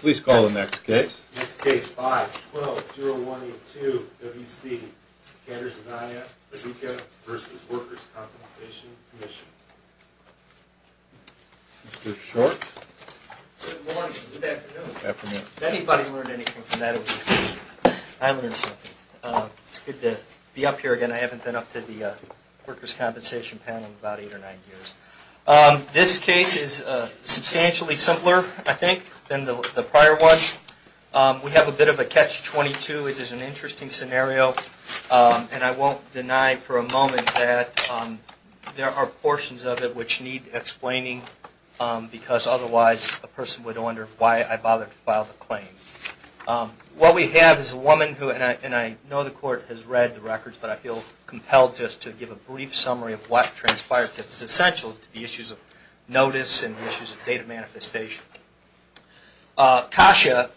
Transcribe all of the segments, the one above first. Please call the next case. Next case, 5-12-0182 W.C. Kanderson, I.F. Radecka v. Workers' Compensation Comm'n. Mr. Short. Good morning, good afternoon. Afternoon. If anybody learned anything from that it would be great. I learned something. It's good to be up here again. I haven't been up to the Workers' Compensation panel in about eight or nine years. This case is substantially simpler, I think, than the prior ones. We have a bit of a catch-22, which is an interesting scenario. And I won't deny for a moment that there are portions of it which need explaining because otherwise a person would wonder why I bothered to file the claim. What we have is a woman who, and I know the court has read the records, but I feel compelled just to give a brief summary of what transpired because it's essential to the issues of notice and the issues of data manifestation. Kasha,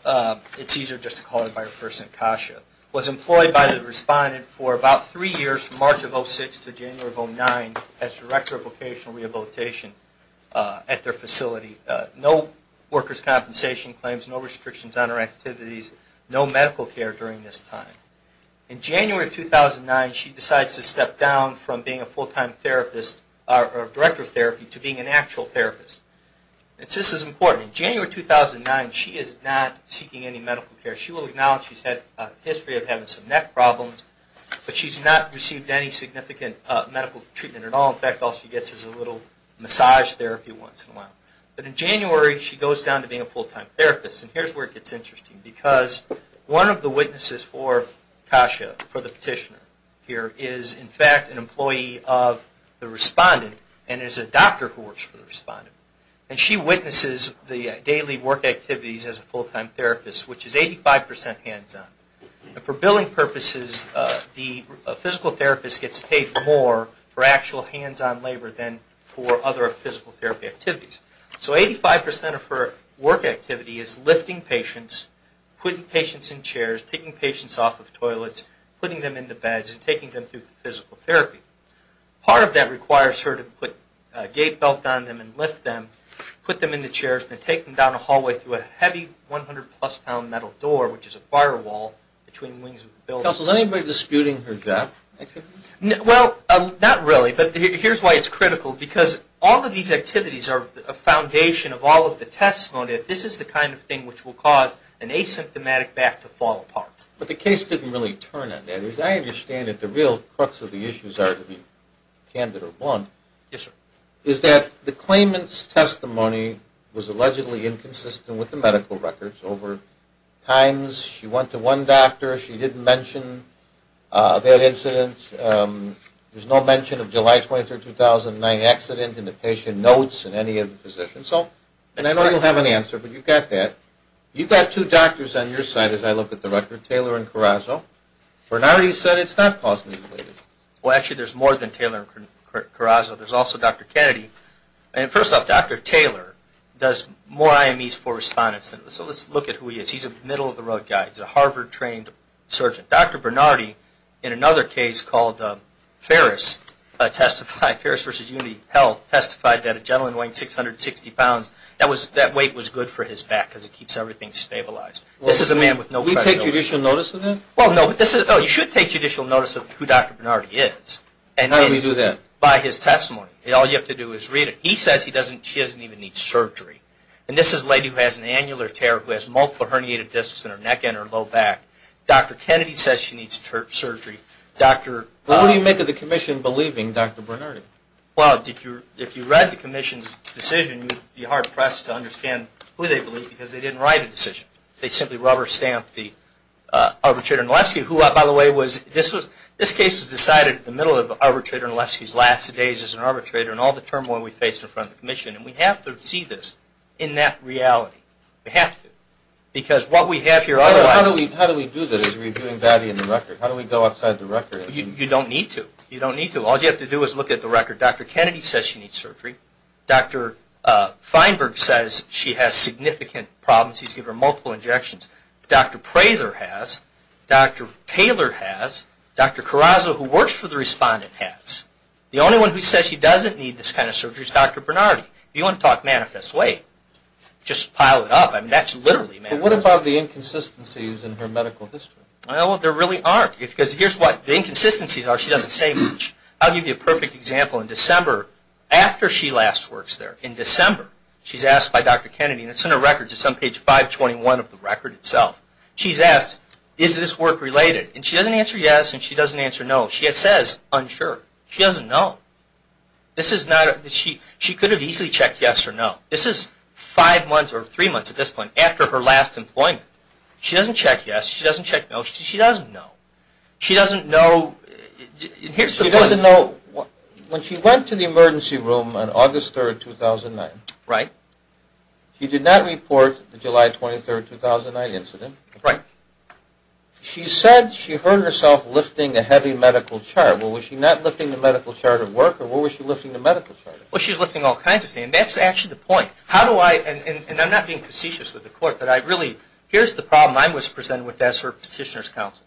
it's easier just to call her by her first name, Kasha, was employed by the respondent for about three years from March of 2006 to January of 2009 as Director of Vocational Rehabilitation at their facility. No workers' compensation claims, no restrictions on her activities, no medical care during this time. In January of 2009, she decides to step down from being a full-time therapist, or Director of Therapy, to being an actual therapist. And this is important. In January of 2009, she is not seeking any medical care. She will acknowledge she's had a history of having some neck problems, but she's not received any significant medical treatment at all. In fact, all she gets is a little massage therapy once in a while. But in January, she goes down to being a full-time therapist. And here's where it gets interesting because one of the witnesses for Kasha, for the petitioner here, is in fact an employee of the respondent and is a doctor who works for the respondent. And she witnesses the daily work activities as a full-time therapist, which is 85 percent hands-on. And for billing purposes, the physical therapist gets paid more for actual hands-on labor than for other physical therapy activities. So 85 percent of her work activity is lifting patients, putting patients in chairs, taking patients off of toilets, putting them into beds, and taking them through physical therapy. Part of that requires her to put a gait belt on them and lift them, put them in the chairs, and then take them down a hallway through a heavy 100-plus pound metal door, which is a firewall between wings of the building. Counsel, is anybody disputing her death? Well, not really, but here's why it's critical. Because all of these activities are a foundation of all of the testimony. This is the kind of thing which will cause an asymptomatic back to fall apart. But the case didn't really turn on that. As I understand it, the real crux of the issues are, to be candid or blunt, is that the claimant's testimony was allegedly inconsistent with the medical records over times. She went to one doctor. She didn't mention that incident. There's no mention of July 23, 2009 accident in the patient notes in any of the positions. And I know you'll have an answer, but you've got that. You've got two doctors on your side, as I look at the record, Taylor and Carrazzo. Bernardi said it's not causally related. Well, actually, there's more than Taylor and Carrazzo. There's also Dr. Kennedy. First off, Dr. Taylor does more IMEs for respondents. So let's look at who he is. He's a middle-of-the-road guy. He's a Harvard-trained surgeon. Dr. Bernardi, in another case called Ferris versus Unity Health, testified that a gentleman weighing 660 pounds, that weight was good for his back because it keeps everything stabilized. This is a man with no credibility. Can we take judicial notice of that? Well, no, but you should take judicial notice of who Dr. Bernardi is. How do we do that? By his testimony. All you have to do is read it. He says she doesn't even need surgery. And this is a lady who has an annular tear, who has multiple herniated discs in her neck and her low back. Dr. Kennedy says she needs surgery. What do you make of the commission believing Dr. Bernardi? Well, if you read the commission's decision, you'd be hard-pressed to understand who they believe because they didn't write a decision. They simply rubber-stamped the arbitrator. By the way, this case was decided in the middle of arbitrator Nalewski's last days as an arbitrator and all the turmoil we faced in front of the commission. And we have to see this in that reality. We have to. Because what we have here otherwise... How do we do that? Are we doing that in the record? How do we go outside the record? You don't need to. You don't need to. All you have to do is look at the record. Dr. Kennedy says she needs surgery. Dr. Feinberg says she has significant problems. He's given her multiple injections. Dr. Prather has. Dr. Taylor has. Dr. Carrazzo, who works for the respondent, has. The only one who says she doesn't need this kind of surgery is Dr. Bernardi. If you want to talk manifest way, just pile it up. That literally matters. But what about the inconsistencies in her medical history? There really aren't. Because here's what. The inconsistencies are she doesn't say much. I'll give you a perfect example. In December, after she last works there, in December, she's asked by Dr. Kennedy, and it's in her record, it's on page 521 of the record itself. She's asked, is this work related? And she doesn't answer yes and she doesn't answer no. She says unsure. She doesn't know. She could have easily checked yes or no. This is five months or three months at this point after her last employment. She doesn't check yes. She doesn't check no. She doesn't know. She doesn't know. Here's the point. She doesn't know. When she went to the emergency room on August 3rd, 2009. Right. She did not report the July 23rd, 2009 incident. Right. She said she heard herself lifting a heavy medical charge. Well, was she not lifting the medical charge of work or what was she lifting the medical charge of? Well, she's lifting all kinds of things. And that's actually the point. How do I, and I'm not being facetious with the court, but I really, here's the problem I was presented with as her petitioner's counsel.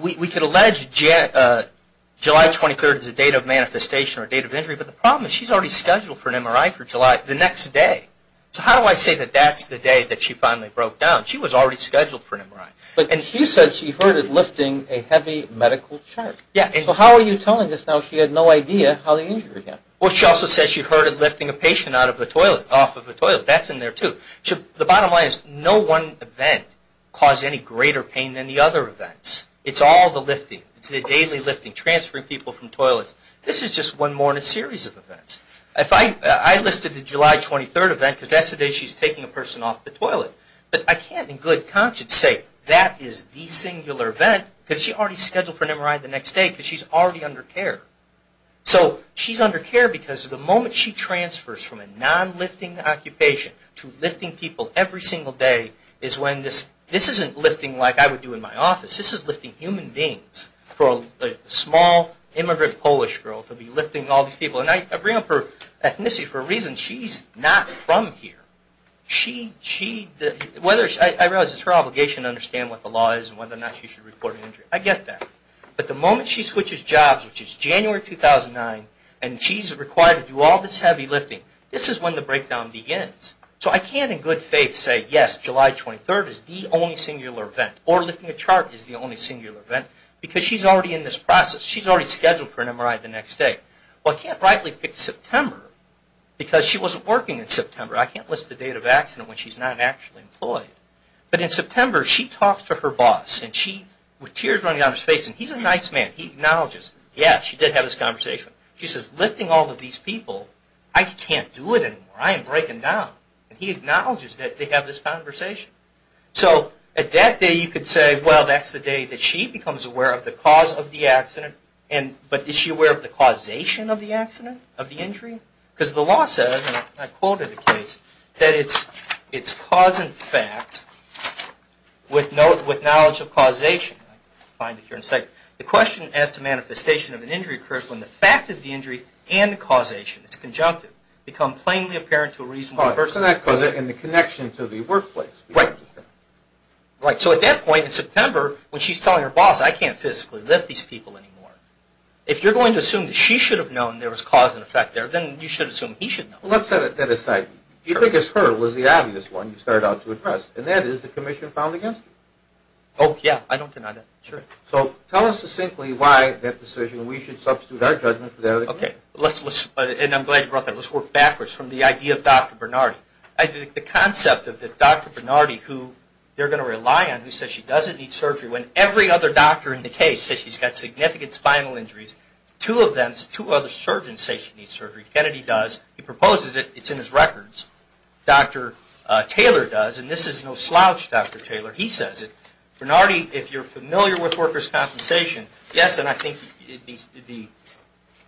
We could allege July 23rd is a date of manifestation or a date of injury, but the problem is she's already scheduled for an MRI for July, the next day. So how do I say that that's the day that she finally broke down? She was already scheduled for an MRI. But she said she heard her lifting a heavy medical charge. Yeah. So how are you telling us now she had no idea how the injury happened? Well, she also said she heard her lifting a patient out of the toilet, off of the toilet. That's in there too. The bottom line is no one event caused any greater pain than the other events. It's all the lifting. It's the daily lifting, transferring people from toilets. This is just one more in a series of events. I listed the July 23rd event because that's the day she's taking a person off the toilet. But I can't in good conscience say that is the singular event because she already scheduled for an MRI the next day because she's already under care. So she's under care because the moment she transfers from a non-lifting occupation to lifting people every single day is when this isn't lifting like I would do in my office. This is lifting human beings for a small immigrant Polish girl to be lifting all these people. And I bring up her ethnicity for a reason. She's not from here. I realize it's her obligation to understand what the law is and whether or not she should report an injury. I get that. But the moment she switches jobs, which is January 2009, and she's required to do all this heavy lifting, this is when the breakdown begins. So I can't in good faith say, yes, July 23rd is the only singular event or lifting a chart is the only singular event because she's already in this process. She's already scheduled for an MRI the next day. Well, I can't rightly pick September because she wasn't working in September. I can't list the date of accident when she's not actually employed. But in September she talks to her boss and she with tears running down her face and he's a nice man. He acknowledges, yes, she did have this conversation. She says, lifting all of these people, I can't do it anymore. I am breaking down. And he acknowledges that they have this conversation. So at that day you could say, well, that's the day that she becomes aware of the cause of the accident. But is she aware of the causation of the accident, of the injury? Because the law says, and I quoted the case, that it's cause and fact with knowledge of causation. The question as to manifestation of an injury occurs when the fact of the injury and the causation, it's conjunctive, become plainly apparent to a reasonable person. And the connection to the workplace. Right. So at that point in September when she's telling her boss, I can't physically lift these people anymore, if you're going to assume that she should have known there was cause and effect there, then you should assume he should know. Well, let's set that aside. Do you think it's her who was the obvious one you started out to address, and that is the commission found against her? Oh, yeah. I don't deny that. Sure. So tell us simply why that decision we should substitute our judgment for that of the commission. Okay. And I'm glad you brought that up. Let's work backwards from the idea of Dr. Bernardi. I think the concept of Dr. Bernardi who they're going to rely on, who says she doesn't need surgery, when every other doctor in the case says she's got surgery, Kennedy does. He proposes it. It's in his records. Dr. Taylor does. And this is no slouch, Dr. Taylor. He says it. Bernardi, if you're familiar with workers' compensation, yes, and I think it needs to be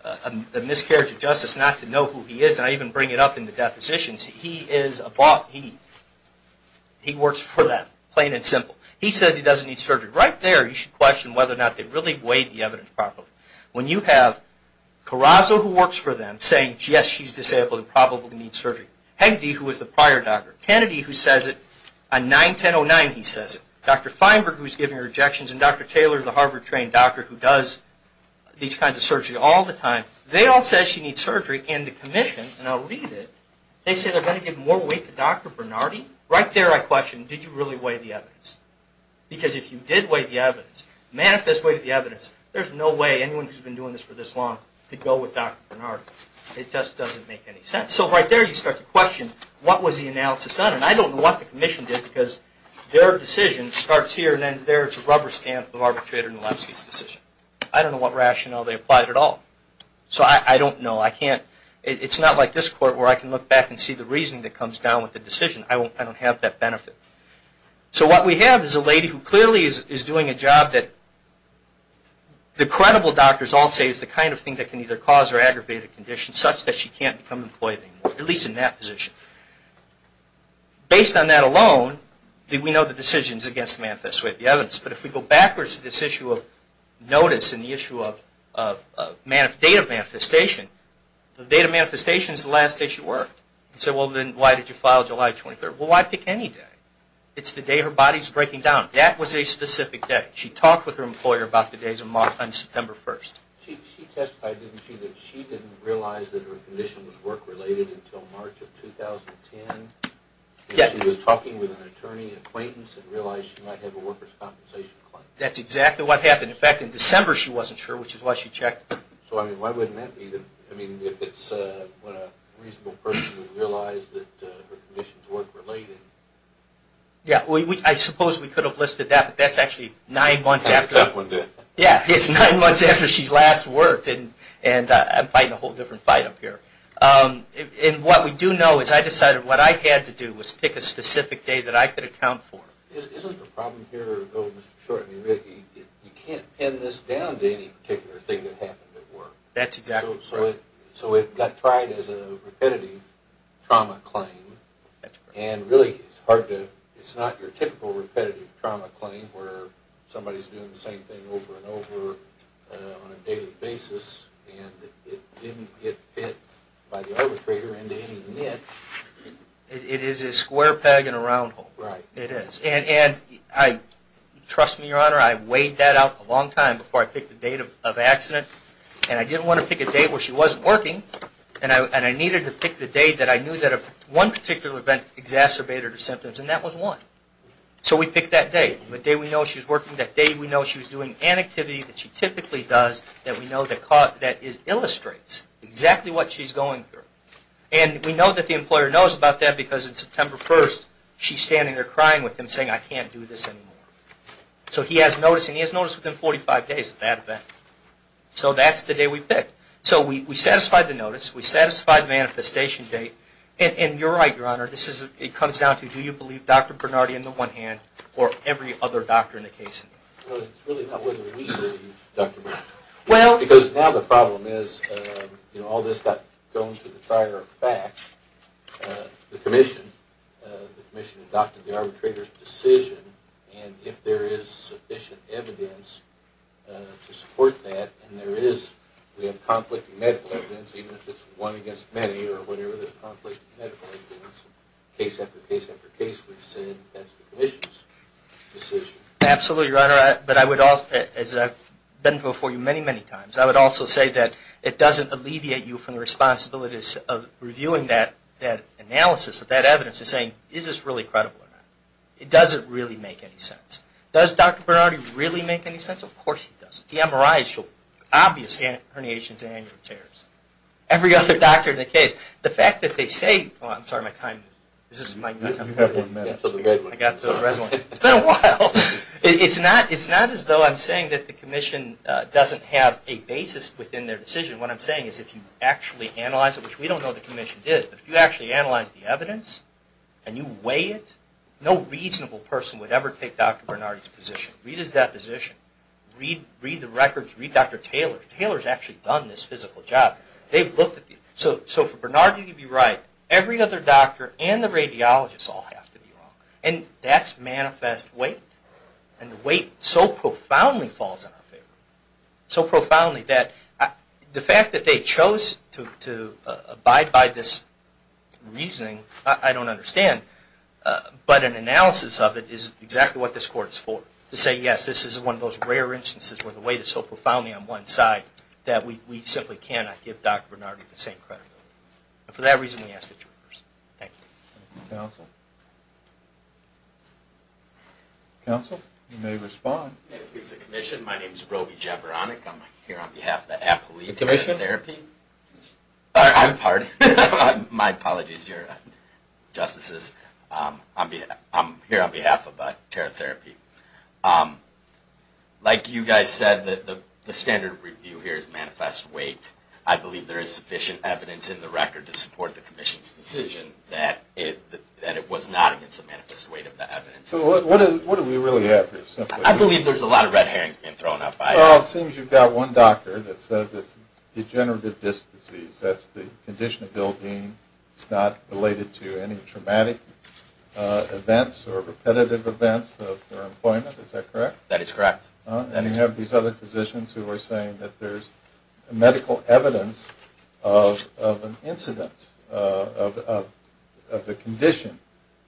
a miscarriage of justice not to know who he is. And I even bring it up in the depositions. He is a boss. He works for them, plain and simple. He says he doesn't need surgery. Right there you should question whether or not they really weighed the evidence properly. When you have Carrazzo, who works for them, saying, yes, she's disabled and probably needs surgery. Hegde, who was the prior doctor. Kennedy, who says it. On 9-10-09 he says it. Dr. Feinberg, who's giving her injections, and Dr. Taylor, the Harvard trained doctor who does these kinds of surgery all the time, they all say she needs surgery. And the commission, and I'll read it, they say they're going to give more weight to Dr. Bernardi. Right there I question, did you really weigh the evidence? Because if you did weigh the evidence, manifest weight of the evidence, there's no way anyone who's been doing this for this long could go with Dr. Bernardi. It just doesn't make any sense. So right there you start to question, what was the analysis done? And I don't know what the commission did, because their decision starts here and ends there. It's a rubber stamp of the arbitrator in Lebsky's decision. I don't know what rationale they applied at all. So I don't know. It's not like this court where I can look back and see the reasoning that comes down with the decision. I don't have that benefit. So what we have is a lady who clearly is doing a job that the credible doctors all say is the kind of thing that can either cause or aggravate a condition such that she can't become employed anymore, at least in that position. Based on that alone, we know the decisions against the manifest weight of the evidence. But if we go backwards to this issue of notice and the issue of date of manifestation, the date of manifestation is the last day she worked. So then why did you file July 23rd? Well, why pick any day? It's the day her body's breaking down. That was a specific day. She talked with her employer about the days of month on September 1st. She testified, didn't she, that she didn't realize that her condition was work-related until March of 2010? Yes. And she was talking with an attorney acquaintance and realized she might have a workers' compensation claim. That's exactly what happened. In fact, in December she wasn't sure, which is why she checked. So, I mean, why wouldn't that be? I mean, if it's when a reasonable person realized that her conditions weren't related. Yeah, I suppose we could have listed that, but that's actually nine months after. Yeah, it's nine months after she's last worked, and I'm fighting a whole different fight up here. And what we do know is I decided what I had to do was pick a specific day that I could account for. Isn't the problem here, though, Mr. Shorten, you can't pin this down to any particular thing that happened at work? That's exactly correct. So it got tried as a repetitive trauma claim. That's correct. And really it's not your typical repetitive trauma claim where somebody's doing the same thing over and over on a daily basis, and it didn't get fit by the arbitrator into any myth. It is a square peg in a round hole. Right. It is. And trust me, Your Honor, I weighed that out a long time before I picked the date of accident, and I didn't want to pick a day where she wasn't working, and I needed to pick the day that I knew that one particular event exacerbated her symptoms, and that was one. So we picked that day, the day we know she's working, that day we know she was doing an activity that she typically does that we know illustrates exactly what she's going through. And we know that the employer knows about that because on September 1st she's standing there crying with him saying, I can't do this anymore. So he has notice, and he has notice within 45 days of that event. So that's the day we picked. So we satisfied the notice, we satisfied the manifestation date, and you're right, Your Honor, it comes down to do you believe Dr. Bernardi in the one hand or every other doctor in the case? Well, it's really not whether we believe Dr. Bernardi. Because now the problem is all this got thrown to the trier of facts. The commission, the commission adopted the arbitrator's decision and if there is sufficient evidence to support that and there is, we have conflicting medical evidence, even if it's one against many or whatever, there's conflicting medical evidence. Case after case after case we've said that's the commission's decision. Absolutely, Your Honor. But I would also, as I've been before you many, many times, I would also say that it doesn't alleviate you from the responsibilities of reviewing that analysis of that evidence and saying, is this really credible or not? It doesn't really make any sense. Does Dr. Bernardi really make any sense? Of course he doesn't. The MRIs show obvious herniations and anterior tears. Every other doctor in the case. The fact that they say, oh, I'm sorry, my time. Is this my time? You have one minute. I got the red one. It's been a while. It's not as though I'm saying that the commission doesn't have a basis within their decision. What I'm saying is if you actually analyze it, which we don't know the commission did, but if you actually analyze the evidence and you weigh it, no reasonable person would ever take Dr. Bernardi's position. Read his deposition. Read the records. Read Dr. Taylor. If Taylor's actually done this physical job, they've looked at these. So for Bernardi to be right, every other doctor and the radiologist all have to be wrong. And that's manifest weight. And the weight so profoundly falls in our favor. So profoundly that the fact that they chose to abide by this reasoning, I don't understand. But an analysis of it is exactly what this court is for. To say, yes, this is one of those rare instances where the weight is so profoundly on one side that we simply cannot give Dr. Bernardi the same credit. And for that reason, we ask that you rehearse. Thank you. Counsel? Counsel? You may respond. It's the commission. My name is Roby Jaberonik. I'm here on behalf of the appellee. Commission? Therapy. I'm pardoned. My apologies, your justices. I'm here on behalf of the TheraTherapy. Like you guys said, the standard review here is manifest weight. I believe there is sufficient evidence in the record to support the commission's decision that it was not against the manifest weight of the evidence. So what do we really have here? I believe there's a lot of red herrings being thrown out. Well, it seems you've got one doctor that says it's degenerative disc disease. That's the condition of Bill Dean. It's not related to any traumatic events or repetitive events of employment. Is that correct? That is correct. And you have these other physicians who are saying that there's medical evidence of an incident of the condition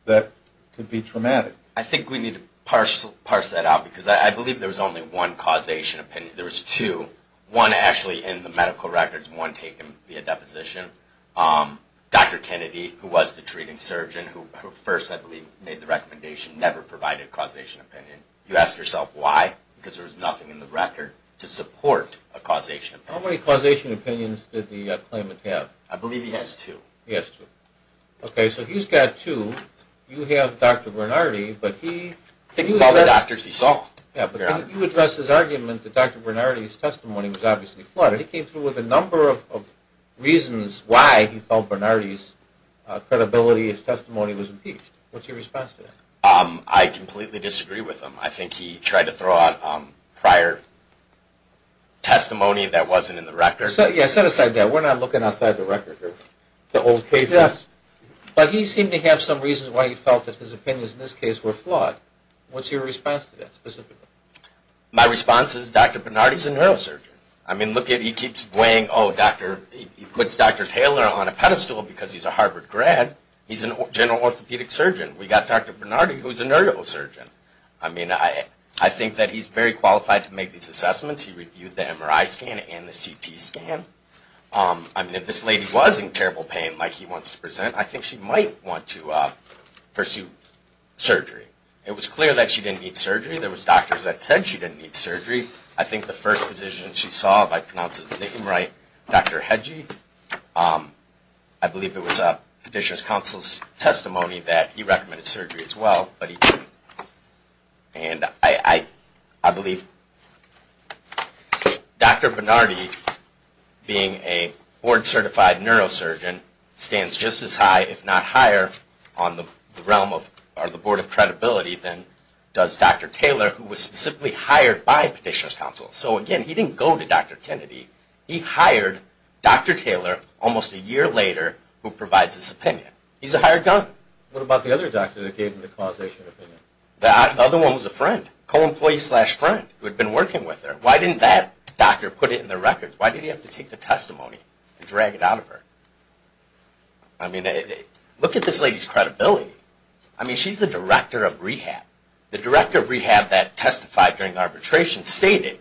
that could be traumatic. I think we need to parse that out because I believe there's only one causation opinion. There's two. One actually in the medical records. One taken via deposition. Dr. Kennedy, who was the treating surgeon, who first I believe made the recommendation, never provided a causation opinion. You ask yourself why? Because there was nothing in the record to support a causation opinion. How many causation opinions did the claimant have? I believe he has two. He has two. Okay. So he's got two. You have Dr. Bernardi. I think of all the doctors he saw. Yeah, but you addressed his argument that Dr. Bernardi's testimony was obviously flawed. And he came through with a number of reasons why he felt Bernardi's credibility, his testimony was impeached. What's your response to that? I completely disagree with him. I think he tried to throw out prior testimony that wasn't in the record. Yeah, set aside that. We're not looking outside the record here. The old cases. Yes. But he seemed to have some reasons why he felt that his opinions in this case were flawed. What's your response to that specifically? My response is Dr. Bernardi's a neurosurgeon. I mean, look at it. He keeps weighing, oh, he puts Dr. Taylor on a pedestal because he's a Harvard grad. He's a general orthopedic surgeon. We've got Dr. Bernardi, who's a neurosurgeon. I mean, I think that he's very qualified to make these assessments. He reviewed the MRI scan and the CT scan. I mean, if this lady was in terrible pain like he wants to present, I think she might want to pursue surgery. It was clear that she didn't need surgery. There was doctors that said she didn't need surgery. I think the first physician she saw, if I pronounce his name right, Dr. Hedgie. I believe it was Petitioner's Counsel's testimony that he recommended surgery as well, but he didn't. And I believe Dr. Bernardi, being a board-certified neurosurgeon, stands just as high, if not higher, on the board of credibility than does Dr. Taylor, who was specifically hired by Petitioner's Counsel. So again, he didn't go to Dr. Kennedy. He hired Dr. Taylor almost a year later, who provides his opinion. He's a hired gun. What about the other doctor that gave him the causation opinion? The other one was a friend, co-employee-slash-friend, who had been working with her. Why didn't that doctor put it in the records? Why did he have to take the testimony and drag it out of her? I mean, look at this lady's credibility. I mean, she's the director of rehab. The director of rehab that testified during arbitration stated,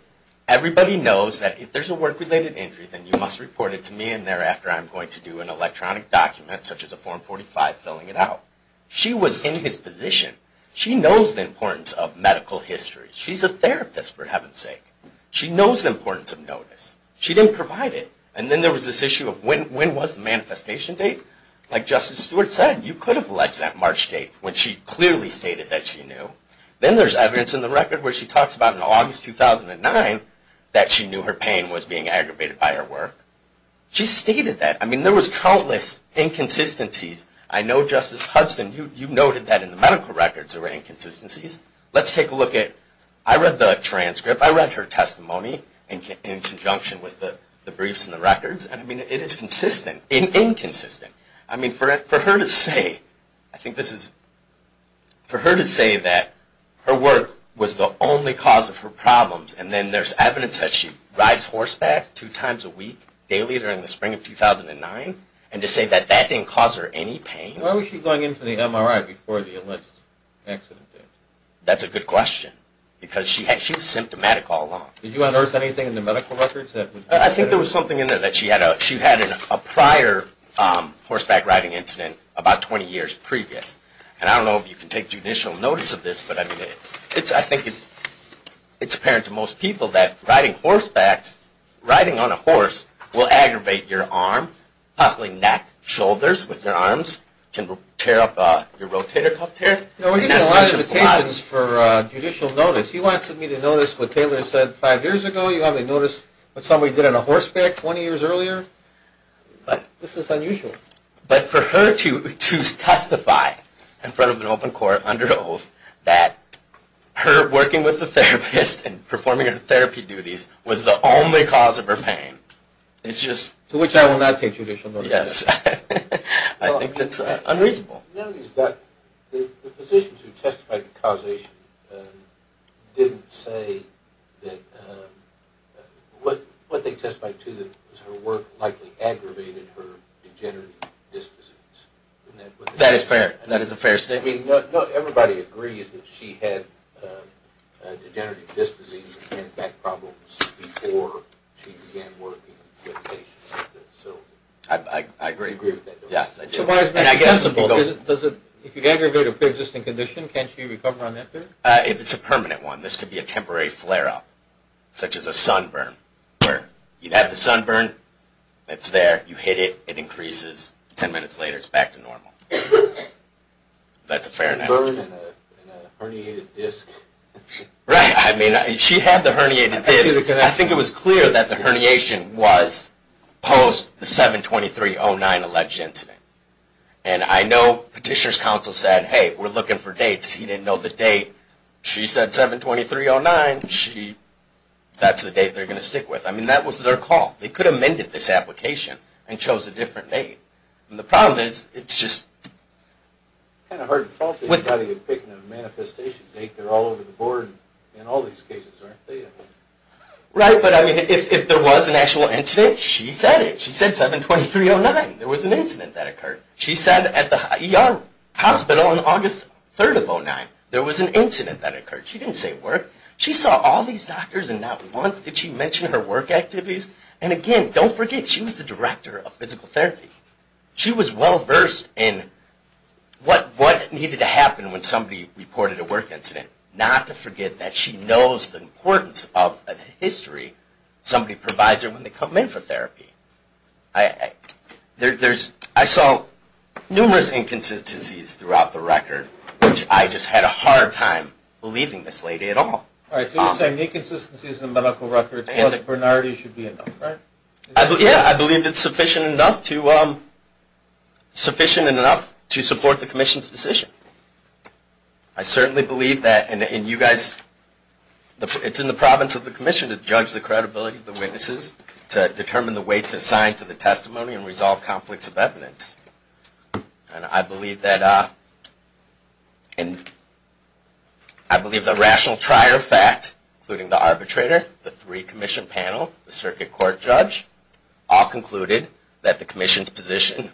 everybody knows that if there's a work-related injury, then you must report it to me, and thereafter I'm going to do an electronic document, such as a Form 45, filling it out. She was in his position. She knows the importance of medical history. She's a therapist, for heaven's sake. She knows the importance of notice. She didn't provide it. And then there was this issue of when was the manifestation date? Like Justice Stewart said, you could have alleged that March date when she clearly stated that she knew. Then there's evidence in the record where she talks about in August 2009 that she knew her pain was being aggravated by her work. She stated that. I mean, there was countless inconsistencies. I know, Justice Hudson, you noted that in the medical records there were inconsistencies. Let's take a look at – I read the transcript. I read her testimony in conjunction with the briefs and the records, and I mean, it is consistent, inconsistent. I mean, for her to say – I think this is – for her to say that her work was the only cause of her problems, and then there's evidence that she And to say that that didn't cause her any pain? Why was she going in for the MRI before the alleged accident? That's a good question. Because she was symptomatic all along. Did you unearth anything in the medical records? I think there was something in there that she had a prior horseback riding incident about 20 years previous. And I don't know if you can take judicial notice of this, but I mean, I think it's apparent to most people that riding horsebacks, riding on a horse will aggravate your arm, possibly neck, shoulders with your arms, can tear up your rotator cuff tear. You know, we get a lot of invitations for judicial notice. He wants me to notice what Taylor said five years ago. You want me to notice what somebody did on a horseback 20 years earlier? This is unusual. But for her to testify in front of an open court under oath that her working with a therapist and performing her therapy duties was the only cause of her pain, it's just... To which I will not take judicial notice. Yes. I think it's unreasonable. The physicians who testified to causation didn't say that what they testified to was her work likely aggravated her degenerative dysplasia. That is fair. That is a fair statement. I mean, everybody agrees that she had degenerative disc disease and back problems before she began working with patients. I agree with that. Yes, I do. And I guess... If you aggravate a pre-existing condition, can't she recover on that basis? If it's a permanent one. This could be a temporary flare-up, such as a sunburn, where you have the sunburn, it's there, you hit it, it increases, 10 minutes later it's back to normal. That's a fair analogy. Sunburn and a herniated disc. Right. I mean, she had the herniated disc. I think it was clear that the herniation was post the 7-23-09 alleged incident. And I know Petitioner's Counsel said, hey, we're looking for dates. He didn't know the date. She said 7-23-09. That's the date they're going to stick with. I mean, that was their call. They could have amended this application and chose a different date. And the problem is, it's just... Kind of hard to talk to somebody and pick a manifestation date. They're all over the board in all these cases, aren't they? Right, but I mean, if there was an actual incident, she said it. She said 7-23-09. There was an incident that occurred. She said at the ER hospital on August 3rd of 09. There was an incident that occurred. She didn't say work. She saw all these doctors and not once did she mention her work activities. And again, don't forget, she was the director of physical therapy. She was well-versed in what needed to happen when somebody reported a work incident. Not to forget that she knows the importance of history. Somebody provides her when they come in for therapy. I saw numerous inconsistencies throughout the record, which I just had a hard time believing this lady at all. All right, so you're saying inconsistencies in the medical record, I think Bernardi should be enough, right? Yeah, I believe it's sufficient enough to support the commission's decision. I certainly believe that, and you guys, it's in the province of the commission to judge the credibility of the witnesses, to determine the way to assign to the testimony and resolve conflicts of evidence. And I believe that the rational trier of fact, including the arbitrator, the three-commission panel, the circuit court judge, all concluded that the commission's decision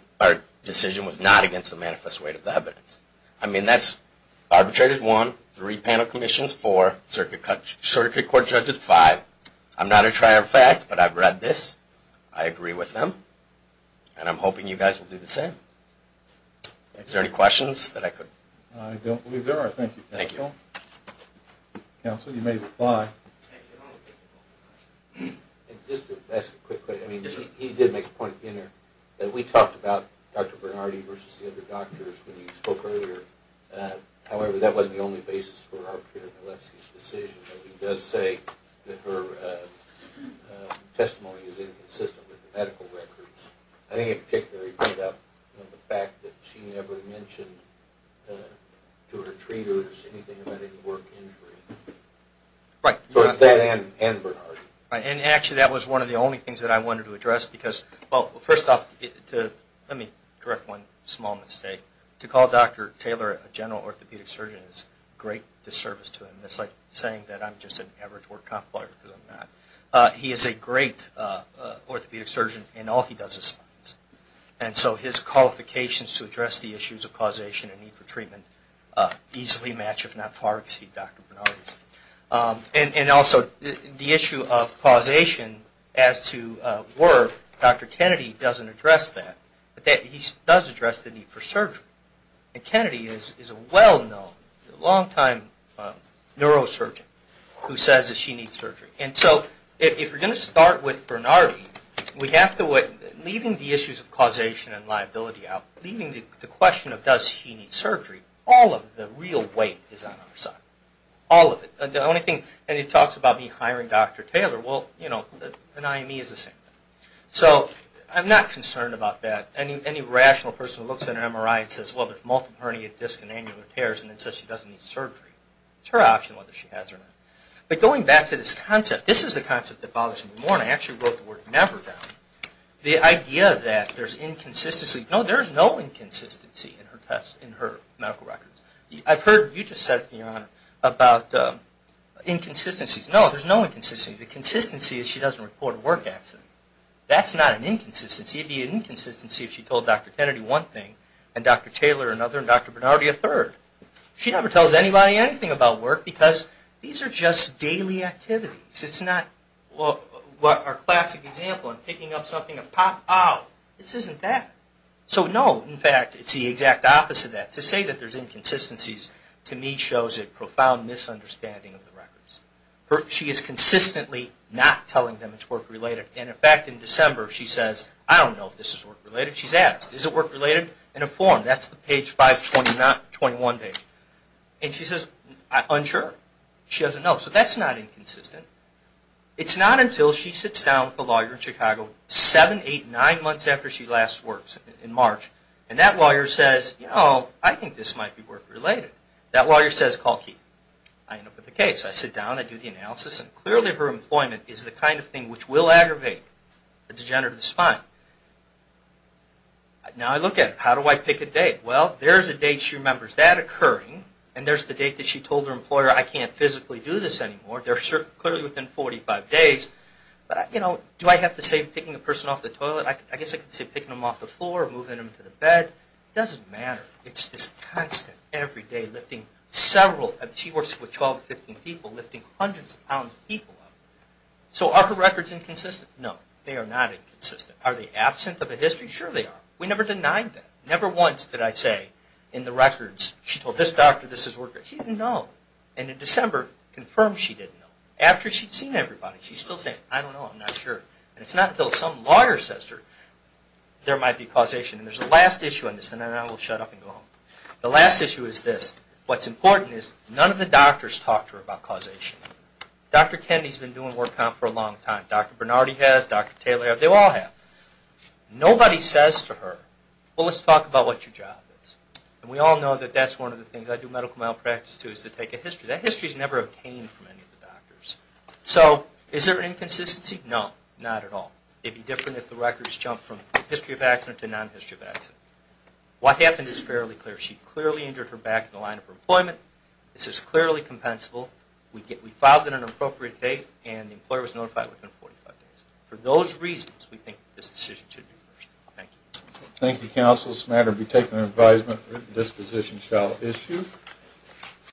was not against the manifest weight of the evidence. I mean, that's arbitrators, one, three panel commissions, four, circuit court judges, five. I'm not a trier of fact, but I've read this. I agree with them, and I'm hoping you guys will do the same. Is there any questions that I could? I don't believe there are. Thank you. Thank you. Counsel, you may reply. Just to ask a quick question. I mean, he did make a point in there that we talked about Dr. Bernardi versus the other doctors when he spoke earlier. However, that wasn't the only basis for arbitrator Galefsky's decision. He does say that her testimony is inconsistent with the medical records. I think in particular he made up the fact that she never mentioned to her treaters anything about any work injury. Right. So it's that and Bernardi. And actually, that was one of the only things that I wanted to address because, well, first off, let me correct one small mistake. To call Dr. Taylor a general orthopedic surgeon is a great disservice to him. That's like saying that I'm just an average work comp liar because I'm not. He is a great orthopedic surgeon in all he does is spines. And so his qualifications to address the issues of causation and need for treatment easily match, if not far exceed, Dr. Bernardi's. And also, the issue of causation as to work, Dr. Kennedy doesn't address that. But he does address the need for surgery. And Kennedy is a well-known, long-time neurosurgeon who says that she needs surgery. And so if you're going to start with Bernardi, leaving the issues of causation and liability out, leaving the question of does she need surgery, all of the real weight is on our side. All of it. And he talks about me hiring Dr. Taylor. Well, an IME is the same thing. So I'm not concerned about that. Any rational person who looks at an MRI and says, well, there's multiple hernia, disc, and annular tears, and then says she doesn't need surgery. It's her option whether she has it or not. But going back to this concept, this is the concept that bothers me more. And I actually wrote the word never down. The idea that there's inconsistency. No, there's no inconsistency in her tests, in her medical records. I've heard what you just said, Your Honor, about inconsistencies. No, there's no inconsistency. The consistency is she doesn't report a work accident. That's not an inconsistency. It would be an inconsistency if she told Dr. Kennedy one thing and Dr. Taylor another and Dr. Bernardi a third. She never tells anybody anything about work because these are just daily activities. It's not our classic example of picking up something and pop out. This isn't that. So no, in fact, it's the exact opposite of that. She is consistently not telling them it's work-related. And, in fact, in December she says, I don't know if this is work-related. She's asked, is it work-related? In a form, that's the page 521. And she says, I'm unsure. She doesn't know. So that's not inconsistent. It's not until she sits down with a lawyer in Chicago, seven, eight, nine months after she last works in March, and that lawyer says, you know, I think this might be work-related. That lawyer says, call Keith. I end up with a case. I sit down, I do the analysis, and clearly her employment is the kind of thing which will aggravate the degenerative spine. Now I look at it. How do I pick a date? Well, there's a date she remembers that occurring, and there's the date that she told her employer, I can't physically do this anymore. They're clearly within 45 days. But, you know, do I have to say picking a person off the toilet? I guess I could say picking them off the floor or moving them to the bed. It doesn't matter. It's just constant, every day, lifting several. She works with 12 to 15 people, lifting hundreds of pounds of people. So are her records inconsistent? No, they are not inconsistent. Are they absent of a history? Sure they are. We never denied that. Never once did I say in the records, she told this doctor this is work-related. She didn't know. And in December, confirmed she didn't know. After she'd seen everybody, she's still saying, I don't know, I'm not sure. And it's not until some lawyer says there might be causation. And there's a last issue on this, and then I will shut up and go home. The last issue is this. What's important is none of the doctors talked to her about causation. Dr. Kennedy's been doing work comp for a long time. Dr. Bernardi has. Dr. Taylor has. They all have. Nobody says to her, well, let's talk about what your job is. And we all know that that's one of the things I do medical malpractice to, is to take a history. That history's never obtained from any of the doctors. So is there an inconsistency? No, not at all. It'd be different if the records jumped from history of accident to non-history of accident. What happened is fairly clear. She clearly injured her back in the line of her employment. This is clearly compensable. We filed at an appropriate date, and the employer was notified within 45 days. For those reasons, we think this decision should be reversed. Thank you. Thank you, Counsel. This matter will be taken under advisement. Written disposition shall issue.